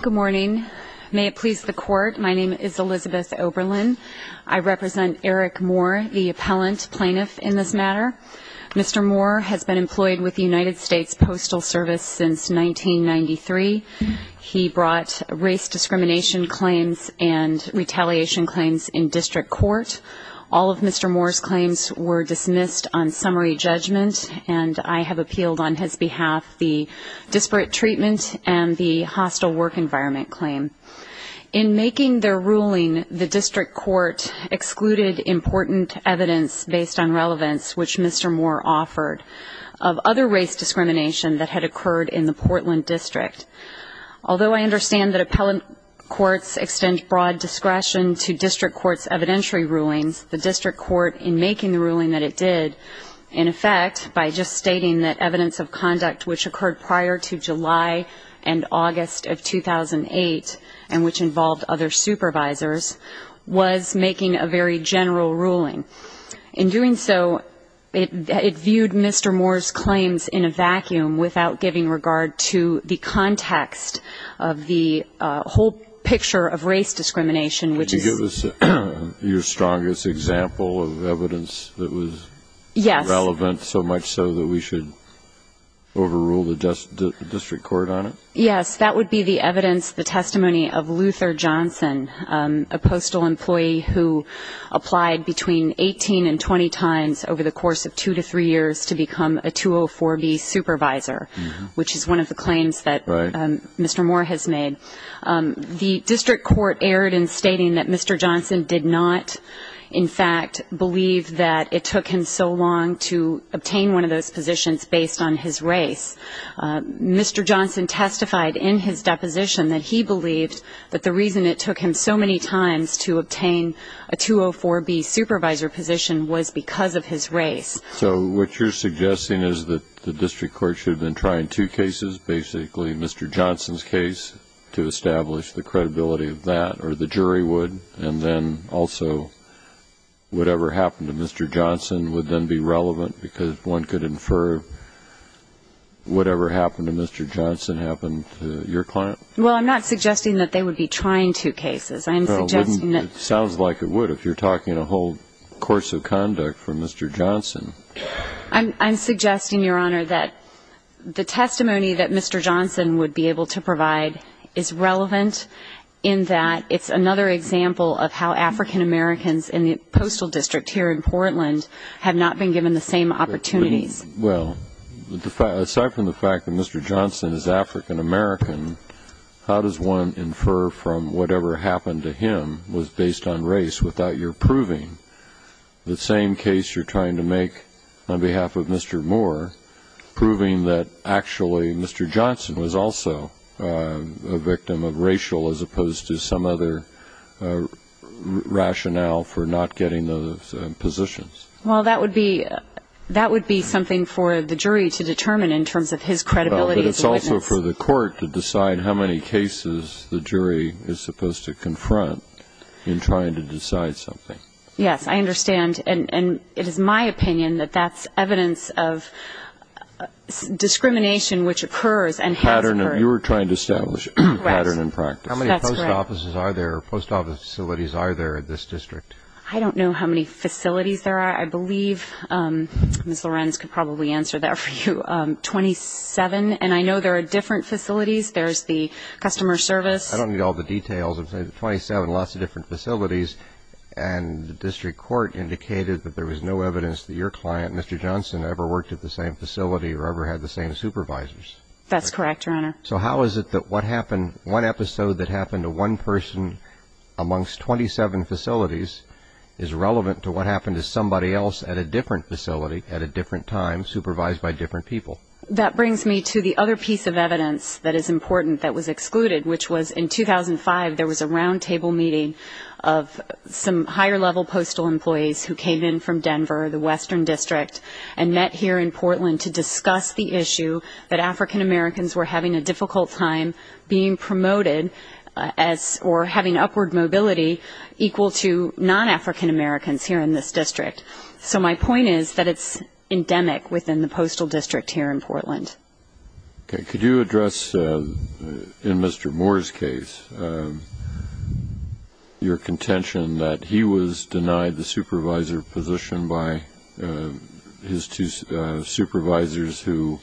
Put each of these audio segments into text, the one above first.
Good morning. May it please the court, my name is Elizabeth Oberlin. I represent Eric Moore, the appellant plaintiff in this matter. Mr. Moore has been employed with the United States Postal Service since 1993. He brought race discrimination claims and retaliation claims in district court. All of Mr. Moore's claims were dismissed on summary judgment, and I have appealed on his behalf the disparate treatment and the hostile work environment claim. In making their ruling, the district court excluded important evidence based on relevance, which Mr. Moore offered, of other race discrimination that had occurred in the Portland district. Although I understand that appellant courts extend broad discretion to district court's evidentiary rulings, the district court, in making the ruling that it did, in effect, by just stating that evidence of conduct which occurred prior to July and August of 2008 and which involved other supervisors, was making a very general ruling. In doing so, it viewed Mr. Moore's claims in a vacuum without giving regard to the context of the whole picture of race discrimination, which is- Can you give us your strongest example of evidence that was- Yes. Relevant, so much so that we should overrule the district court on it? Yes. That would be the evidence, the testimony of Luther Johnson, a postal employee who applied between 18 and 20 times over the course of two to three years to become a 204B supervisor, which is one of the claims that Mr. Moore has made. The district court erred in stating that Mr. Johnson did not, in fact, believe that it took him so long to obtain one of those positions based on his race. Mr. Johnson testified in his deposition that he believed that the reason it took him so many times to obtain a 204B supervisor position was because of his race. So what you're suggesting is that the district court should have been trying two cases, basically Mr. Johnson's case, to establish the credibility of that, or the jury would, and then also whatever happened to Mr. Johnson would then be relevant because one could infer whatever happened to Mr. Johnson happened to your client? Well, I'm not suggesting that they would be trying two cases. I'm suggesting that- It sounds like it would if you're talking a whole course of conduct for Mr. Johnson. I'm suggesting, Your Honor, that the testimony that Mr. Johnson would be able to provide is relevant in that it's another example of how African Americans in the postal district here in Portland have not been given the same opportunities. Well, aside from the fact that Mr. Johnson is African American, how does one infer from whatever happened to him was based on race without your proving the same case you're trying to make on behalf of Mr. Moore, proving that actually Mr. Johnson was also a victim of racial as opposed to some other rationale for not getting those positions? Well, that would be something for the jury to determine in terms of his credibility as a witness. But it's also for the court to decide how many cases the jury is supposed to confront in trying to decide something. Yes, I understand. And it is my opinion that that's evidence of discrimination which occurs and has occurred. You were trying to establish a pattern in practice. That's correct. How many post offices are there or post office facilities are there in this district? I don't know how many facilities there are. I believe Ms. Lorenz could probably answer that for you. Twenty-seven. And I know there are different facilities. There's the customer service. I don't need all the details. Twenty-seven, lots of different facilities. And the district court indicated that there was no evidence that your client, Mr. Johnson, ever worked at the same facility or ever had the same supervisors. That's correct, Your Honor. So how is it that what happened, one episode that happened to one person amongst 27 facilities, is relevant to what happened to somebody else at a different facility at a different time supervised by different people? That brings me to the other piece of evidence that is important that was excluded, which was in 2005 there was a roundtable meeting of some higher-level postal employees who came in from Denver, the Western District, and met here in Portland to discuss the issue that African-Americans were having a difficult time being promoted or having upward mobility equal to non-African-Americans here in this district. So my point is that it's endemic within the postal district here in Portland. Okay. Could you address, in Mr. Moore's case, your contention that he was denied the supervisor position by his two supervisors who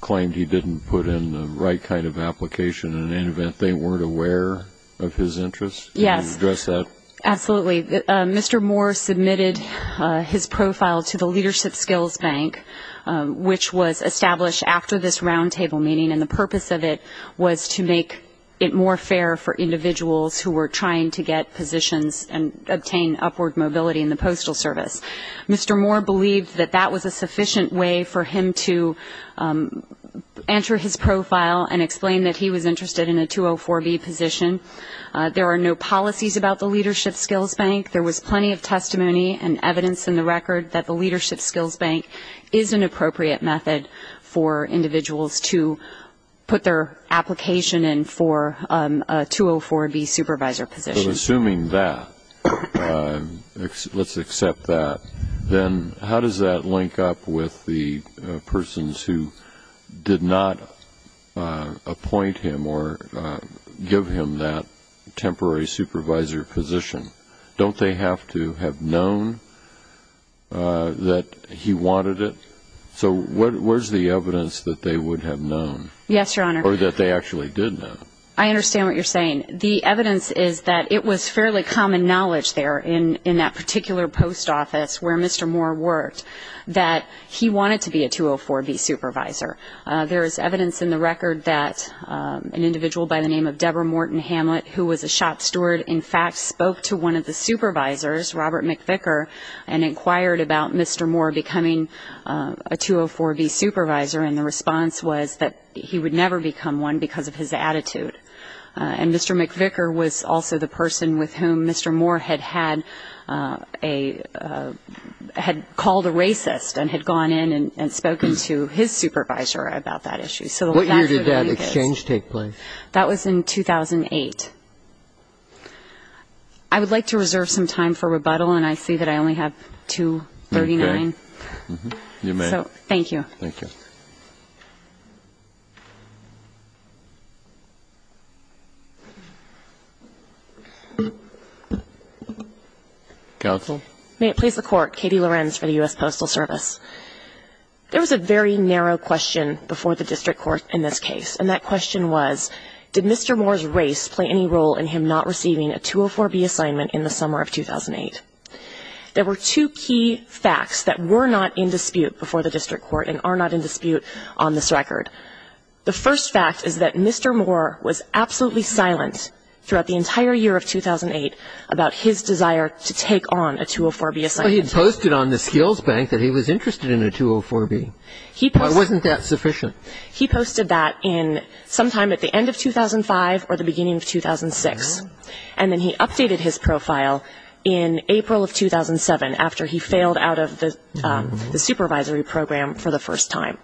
claimed he didn't put in the right kind of application in any event they weren't aware of his interests? Yes. Could you address that? Absolutely. Mr. Moore submitted his profile to the Leadership Skills Bank, which was established after this roundtable meeting, and the purpose of it was to make it more fair for individuals who were trying to get positions and obtain upward mobility in the Postal Service. Mr. Moore believed that that was a sufficient way for him to enter his profile and explain that he was interested in a 204B position. There are no policies about the Leadership Skills Bank. There was plenty of testimony and evidence in the record that the Leadership Skills Bank is an appropriate method for individuals to put their application in for a 204B supervisor position. So assuming that, let's accept that, then how does that link up with the persons who did not appoint him or give him that temporary supervisor position? Don't they have to have known that he wanted it? So where's the evidence that they would have known? Yes, Your Honor. Or that they actually did know? I understand what you're saying. The evidence is that it was fairly common knowledge there in that particular post office where Mr. Moore worked that he wanted to be a 204B supervisor. There is evidence in the record that an individual by the name of Deborah Morton Hamlet, who was a shop steward, in fact spoke to one of the supervisors, Robert McVicker, and inquired about Mr. Moore becoming a 204B supervisor, and the response was that he would never become one because of his attitude. And Mr. McVicker was also the person with whom Mr. Moore had called a racist and had gone in and spoken to his supervisor about that issue. What year did that exchange take place? That was in 2008. I would like to reserve some time for rebuttal, and I see that I only have 2.39. Okay. You may. Thank you. Thank you. Counsel. May it please the Court. Katie Lorenz for the U.S. Postal Service. There was a very narrow question before the district court in this case, and that question was did Mr. Moore's race play any role in him not receiving a 204B assignment in the summer of 2008? There were two key facts that were not in dispute before the district court and are not in dispute before the district court. The first fact is that Mr. Moore was absolutely silent throughout the entire year of 2008 about his desire to take on a 204B assignment. But he had posted on the skills bank that he was interested in a 204B. Why wasn't that sufficient? He posted that sometime at the end of 2005 or the beginning of 2006, and then he updated his profile in April of 2007 after he failed out of the supervisory program for the first time.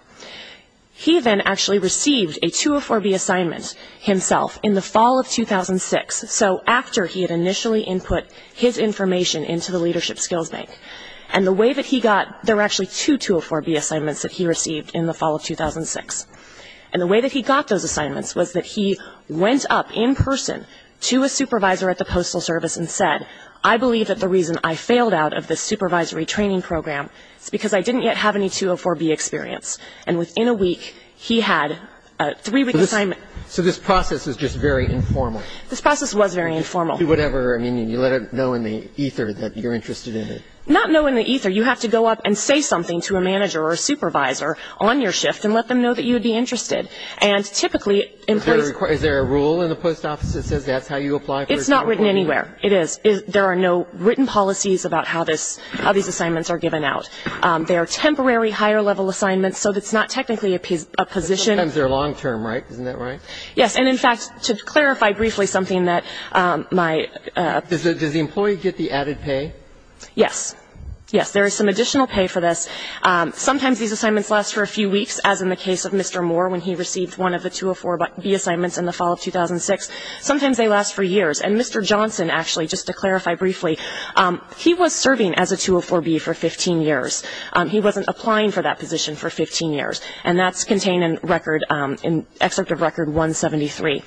He then actually received a 204B assignment himself in the fall of 2006, so after he had initially input his information into the leadership skills bank. And the way that he got there were actually two 204B assignments that he received in the fall of 2006. And the way that he got those assignments was that he went up in person to a supervisor at the postal service and said, I believe that the reason I failed out of this supervisory training program is because I didn't yet have any 204B experience. And within a week, he had a three-week assignment. So this process was just very informal. This process was very informal. You do whatever. I mean, you let them know in the ether that you're interested in it. Not know in the ether. You have to go up and say something to a manager or a supervisor on your shift and let them know that you'd be interested. And typically, employees Is there a rule in the post office that says that's how you apply for a 204B? It's not written anywhere. It is. There are no written policies about how these assignments are given out. They are temporary higher-level assignments, so it's not technically a position. But sometimes they're long-term, right? Isn't that right? Yes. And, in fact, to clarify briefly something that my Does the employee get the added pay? Yes. Yes, there is some additional pay for this. Sometimes these assignments last for a few weeks, as in the case of Mr. Moore when he received one of the 204B assignments in the fall of 2006. Sometimes they last for years. And Mr. Johnson, actually, just to clarify briefly, he was serving as a 204B for 15 years. He wasn't applying for that position for 15 years. And that's contained in record, in Excerpt of Record 173.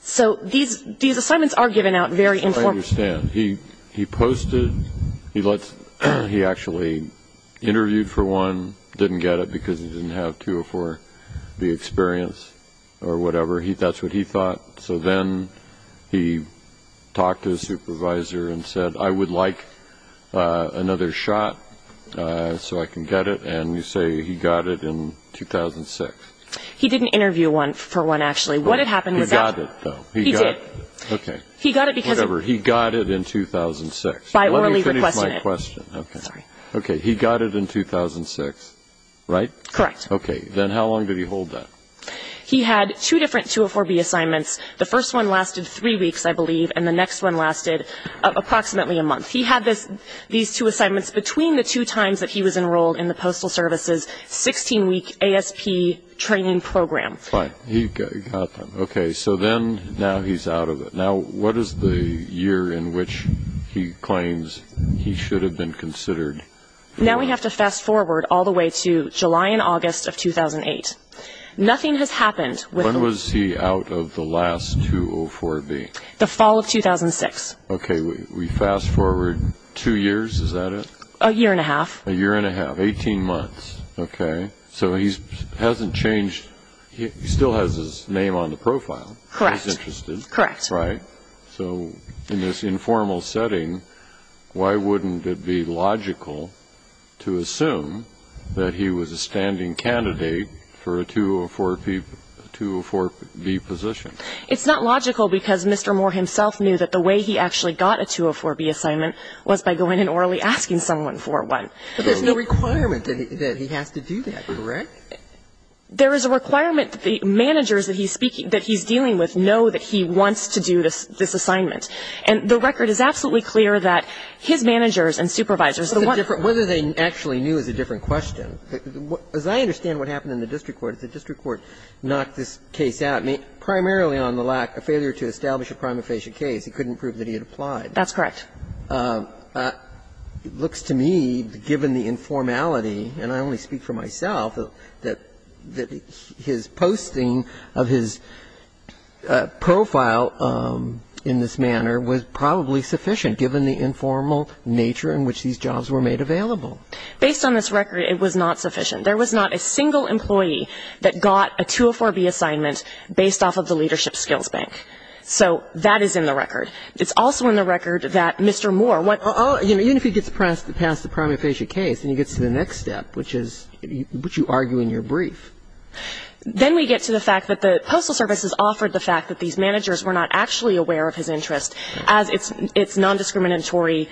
So these assignments are given out very informally. I understand. He posted, he actually interviewed for one, didn't get it because he didn't have 204B experience or whatever. That's what he thought. So then he talked to his supervisor and said, I would like another shot so I can get it. And you say he got it in 2006. He didn't interview for one, actually. What had happened was that He got it, though. He did. Okay. Whatever. He got it in 2006. By orally requesting it. Let me finish my question. Okay. Sorry. Okay. He got it in 2006, right? Correct. Okay. Then how long did he hold that? He had two different 204B assignments. The first one lasted three weeks, I believe, and the next one lasted approximately a month. He had these two assignments between the two times that he was enrolled in the Postal Service's 16-week ASP training program. Fine. He got them. Okay. So then now he's out of it. Now what is the year in which he claims he should have been considered? Now we have to fast forward all the way to July and August of 2008. Nothing has happened. When was he out of the last 204B? The fall of 2006. Okay. We fast forward two years. Is that it? A year and a half. A year and a half. Eighteen months. Okay. So he hasn't changed. He still has his name on the profile. Correct. He's interested. Correct. Right? So in this informal setting, why wouldn't it be logical to assume that he was a standing candidate for a 204B position? It's not logical because Mr. Moore himself knew that the way he actually got a 204B assignment was by going and orally asking someone for one. But there's no requirement that he has to do that, correct? There is a requirement that the managers that he's speaking to, that he's dealing with, know that he wants to do this assignment. And the record is absolutely clear that his managers and supervisors, the one who's going to do it. Whether they actually knew is a different question. As I understand what happened in the district court, the district court knocked this case out, primarily on the lack, a failure to establish a prima facie case. He couldn't prove that he had applied. That's correct. It looks to me, given the informality, and I only speak for myself, that his posting of his profile in this manner was probably sufficient, given the informal nature in which these jobs were made available. Based on this record, it was not sufficient. There was not a single employee that got a 204B assignment based off of the leadership skills bank. So that is in the record. It's also in the record that Mr. Moore went. Even if he gets past the prima facie case and he gets to the next step, which is what you argue in your brief. Then we get to the fact that the Postal Service has offered the fact that these managers were not actually aware of his interest as its non-discriminatory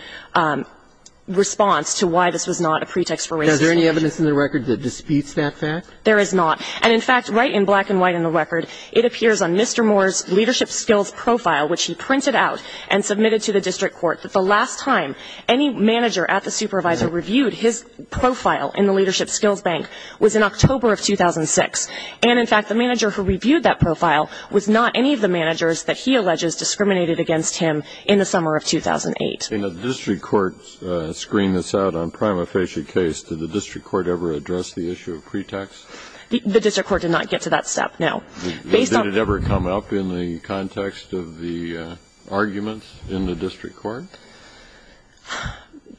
response to why this was not a pretext for racism. Is there any evidence in the record that disputes that fact? There is not. And in fact, right in black and white in the record, it appears on Mr. Moore's leadership skills profile, which he printed out and submitted to the district court, that the last time any manager at the supervisor reviewed his profile in the leadership skills bank was in October of 2006. And in fact, the manager who reviewed that profile was not any of the managers that he alleges discriminated against him in the summer of 2008. In the district court's screen that's out on prima facie case, did the district court ever address the issue of pretext? The district court did not get to that step, no. Did it ever come up in the context of the arguments in the district court?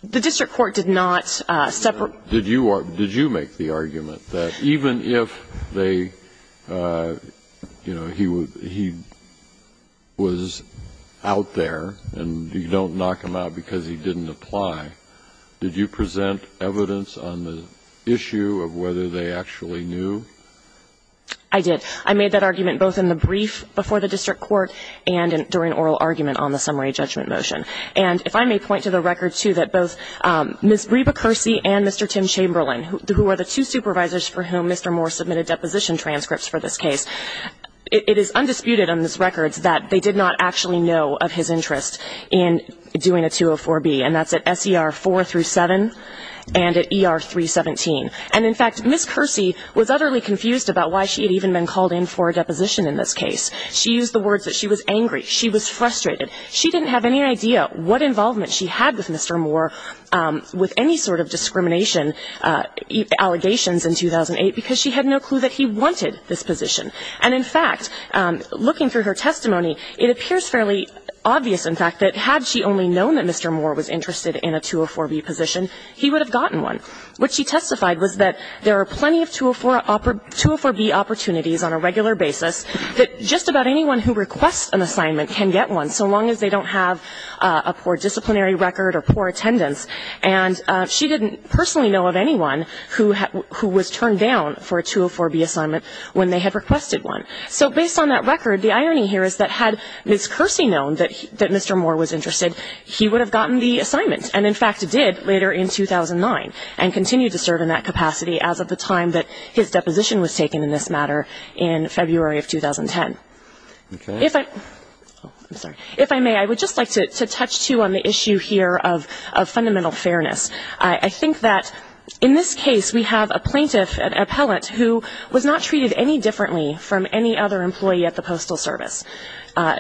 The district court did not separate. Did you make the argument that even if he was out there and you don't knock him out because he didn't apply, did you present evidence on the issue of whether they actually knew? I did. I made that argument both in the brief before the district court and during oral argument on the summary judgment motion. And if I may point to the record, too, that both Ms. Reba Kersey and Mr. Tim Chamberlain, who are the two supervisors for whom Mr. Moore submitted deposition transcripts for this case, it is undisputed on this record that they did not actually know of his interest in doing a 204B. And that's at SER 4 through 7 and at ER 317. And, in fact, Ms. Kersey was utterly confused about why she had even been called in for a deposition in this case. She used the words that she was angry. She was frustrated. She didn't have any idea what involvement she had with Mr. Moore with any sort of discrimination allegations in 2008 because she had no clue that he wanted this position. And, in fact, looking through her testimony, it appears fairly obvious, in fact, that had she only known that Mr. Moore was interested in a 204B position, he would have gotten one. What she testified was that there are plenty of 204B opportunities on a regular basis, that just about anyone who requests an assignment can get one, so long as they don't have a poor disciplinary record or poor attendance. And she didn't personally know of anyone who was turned down for a 204B assignment when they had requested one. So based on that record, the irony here is that had Ms. Kersey known that Mr. Moore was interested, he would have gotten the assignment, and, in fact, did later in 2009. And continued to serve in that capacity as of the time that his deposition was taken in this matter in February of 2010. If I may, I would just like to touch, too, on the issue here of fundamental fairness. I think that in this case we have a plaintiff, an appellate, who was not treated any differently from any other employee at the Postal Service.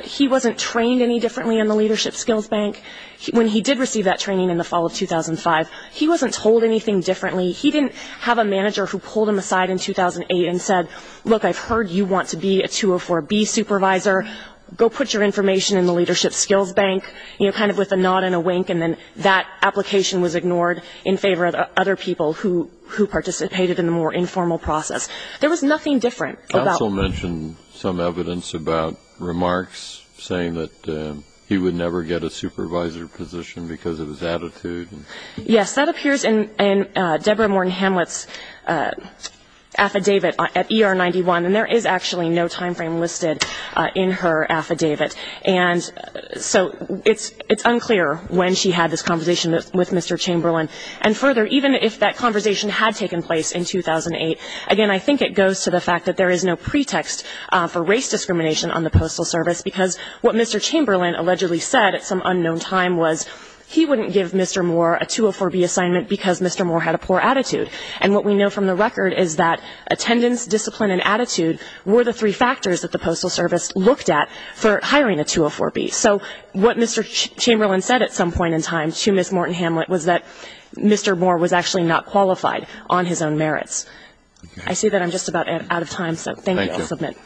He wasn't trained any differently in the Leadership Skills Bank. When he did receive that training in the fall of 2005, he wasn't told anything differently. He didn't have a manager who pulled him aside in 2008 and said, look, I've heard you want to be a 204B supervisor. Go put your information in the Leadership Skills Bank, you know, kind of with a nod and a wink, and then that application was ignored in favor of other people who participated in the more informal process. There was nothing different about that. You also mentioned some evidence about remarks saying that he would never get a supervisor position because of his attitude. Yes. That appears in Deborah Morton Hamlet's affidavit at ER 91, and there is actually no time frame listed in her affidavit. And so it's unclear when she had this conversation with Mr. Chamberlain. And further, even if that conversation had taken place in 2008, again, I think it goes to the fact that there is no pretext for race discrimination on the Postal Service, because what Mr. Chamberlain allegedly said at some unknown time was he wouldn't give Mr. Moore a 204B assignment because Mr. Moore had a poor attitude. And what we know from the record is that attendance, discipline, and attitude were the three factors that the Postal Service looked at for hiring a 204B. So what Mr. Chamberlain said at some point in time to Ms. Morton Hamlet was that Mr. Moore was actually not qualified on his own merits. I see that I'm just about out of time, so thank you. Thank you. I'll submit.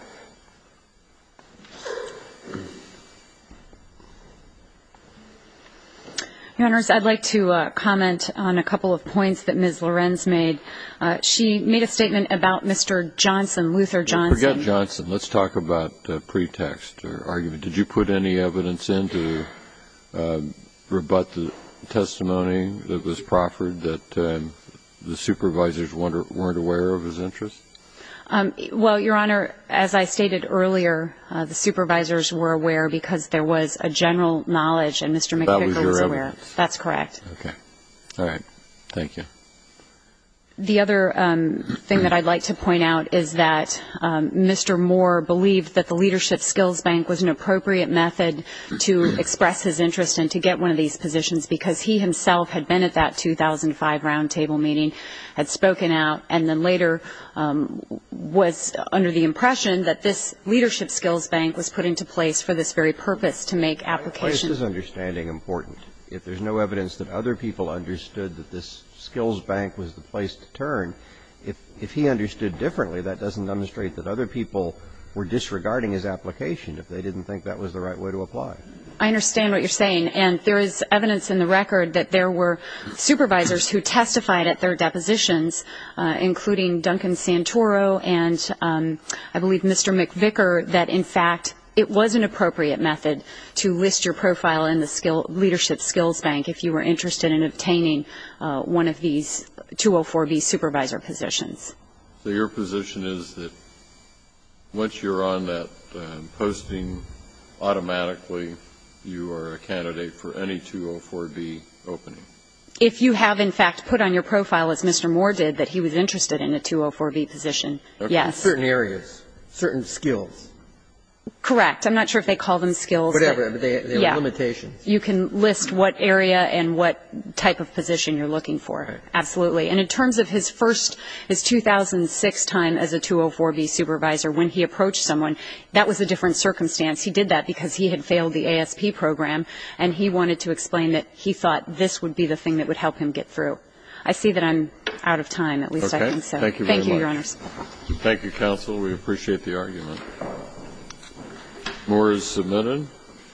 Your Honors, I'd like to comment on a couple of points that Ms. Lorenz made. She made a statement about Mr. Johnson, Luther Johnson. Forget Johnson. Let's talk about pretext or argument. Did you put any evidence in to rebut the testimony that was proffered, that the supervisors weren't aware of his interests? Well, Your Honor, as I stated earlier, the supervisors were aware because there was a general knowledge and Mr. McPicker was aware. That was your evidence. That's correct. Okay. All right. Thank you. The other thing that I'd like to point out is that Mr. Moore believed that the Leadership Skills Bank was an appropriate method to express his interest and to get one of these positions because he himself had been at that 2005 roundtable meeting, had spoken out, and then later was under the impression that this Leadership Skills Bank was put into place for this very purpose to make applications. Why is his understanding important? If there's no evidence that other people understood that this Skills Bank was the place to turn, if he understood differently, that doesn't demonstrate that other people were disregarding his application if they didn't think that was the right way to apply. I understand what you're saying. And there is evidence in the record that there were supervisors who testified at their depositions, including Duncan Santoro and I believe Mr. McPicker, that in fact it was an appropriate method to list your profile in the Leadership Skills Bank if you were interested in obtaining one of these 204B supervisor positions. So your position is that once you're on that posting, automatically you are a candidate for any 204B opening? If you have, in fact, put on your profile, as Mr. Moore did, that he was interested in a 204B position, yes. In certain areas, certain skills. Correct. I'm not sure if they call them skills. Whatever. They are limitations. You can list what area and what type of position you're looking for. Absolutely. And in terms of his first, his 2006 time as a 204B supervisor, when he approached someone, that was a different circumstance. He did that because he had failed the ASP program and he wanted to explain that he thought this would be the thing that would help him get through. I see that I'm out of time, at least I think so. Okay. Thank you very much. Thank you, Your Honors. Thank you, counsel. We appreciate the argument. Moore is submitted.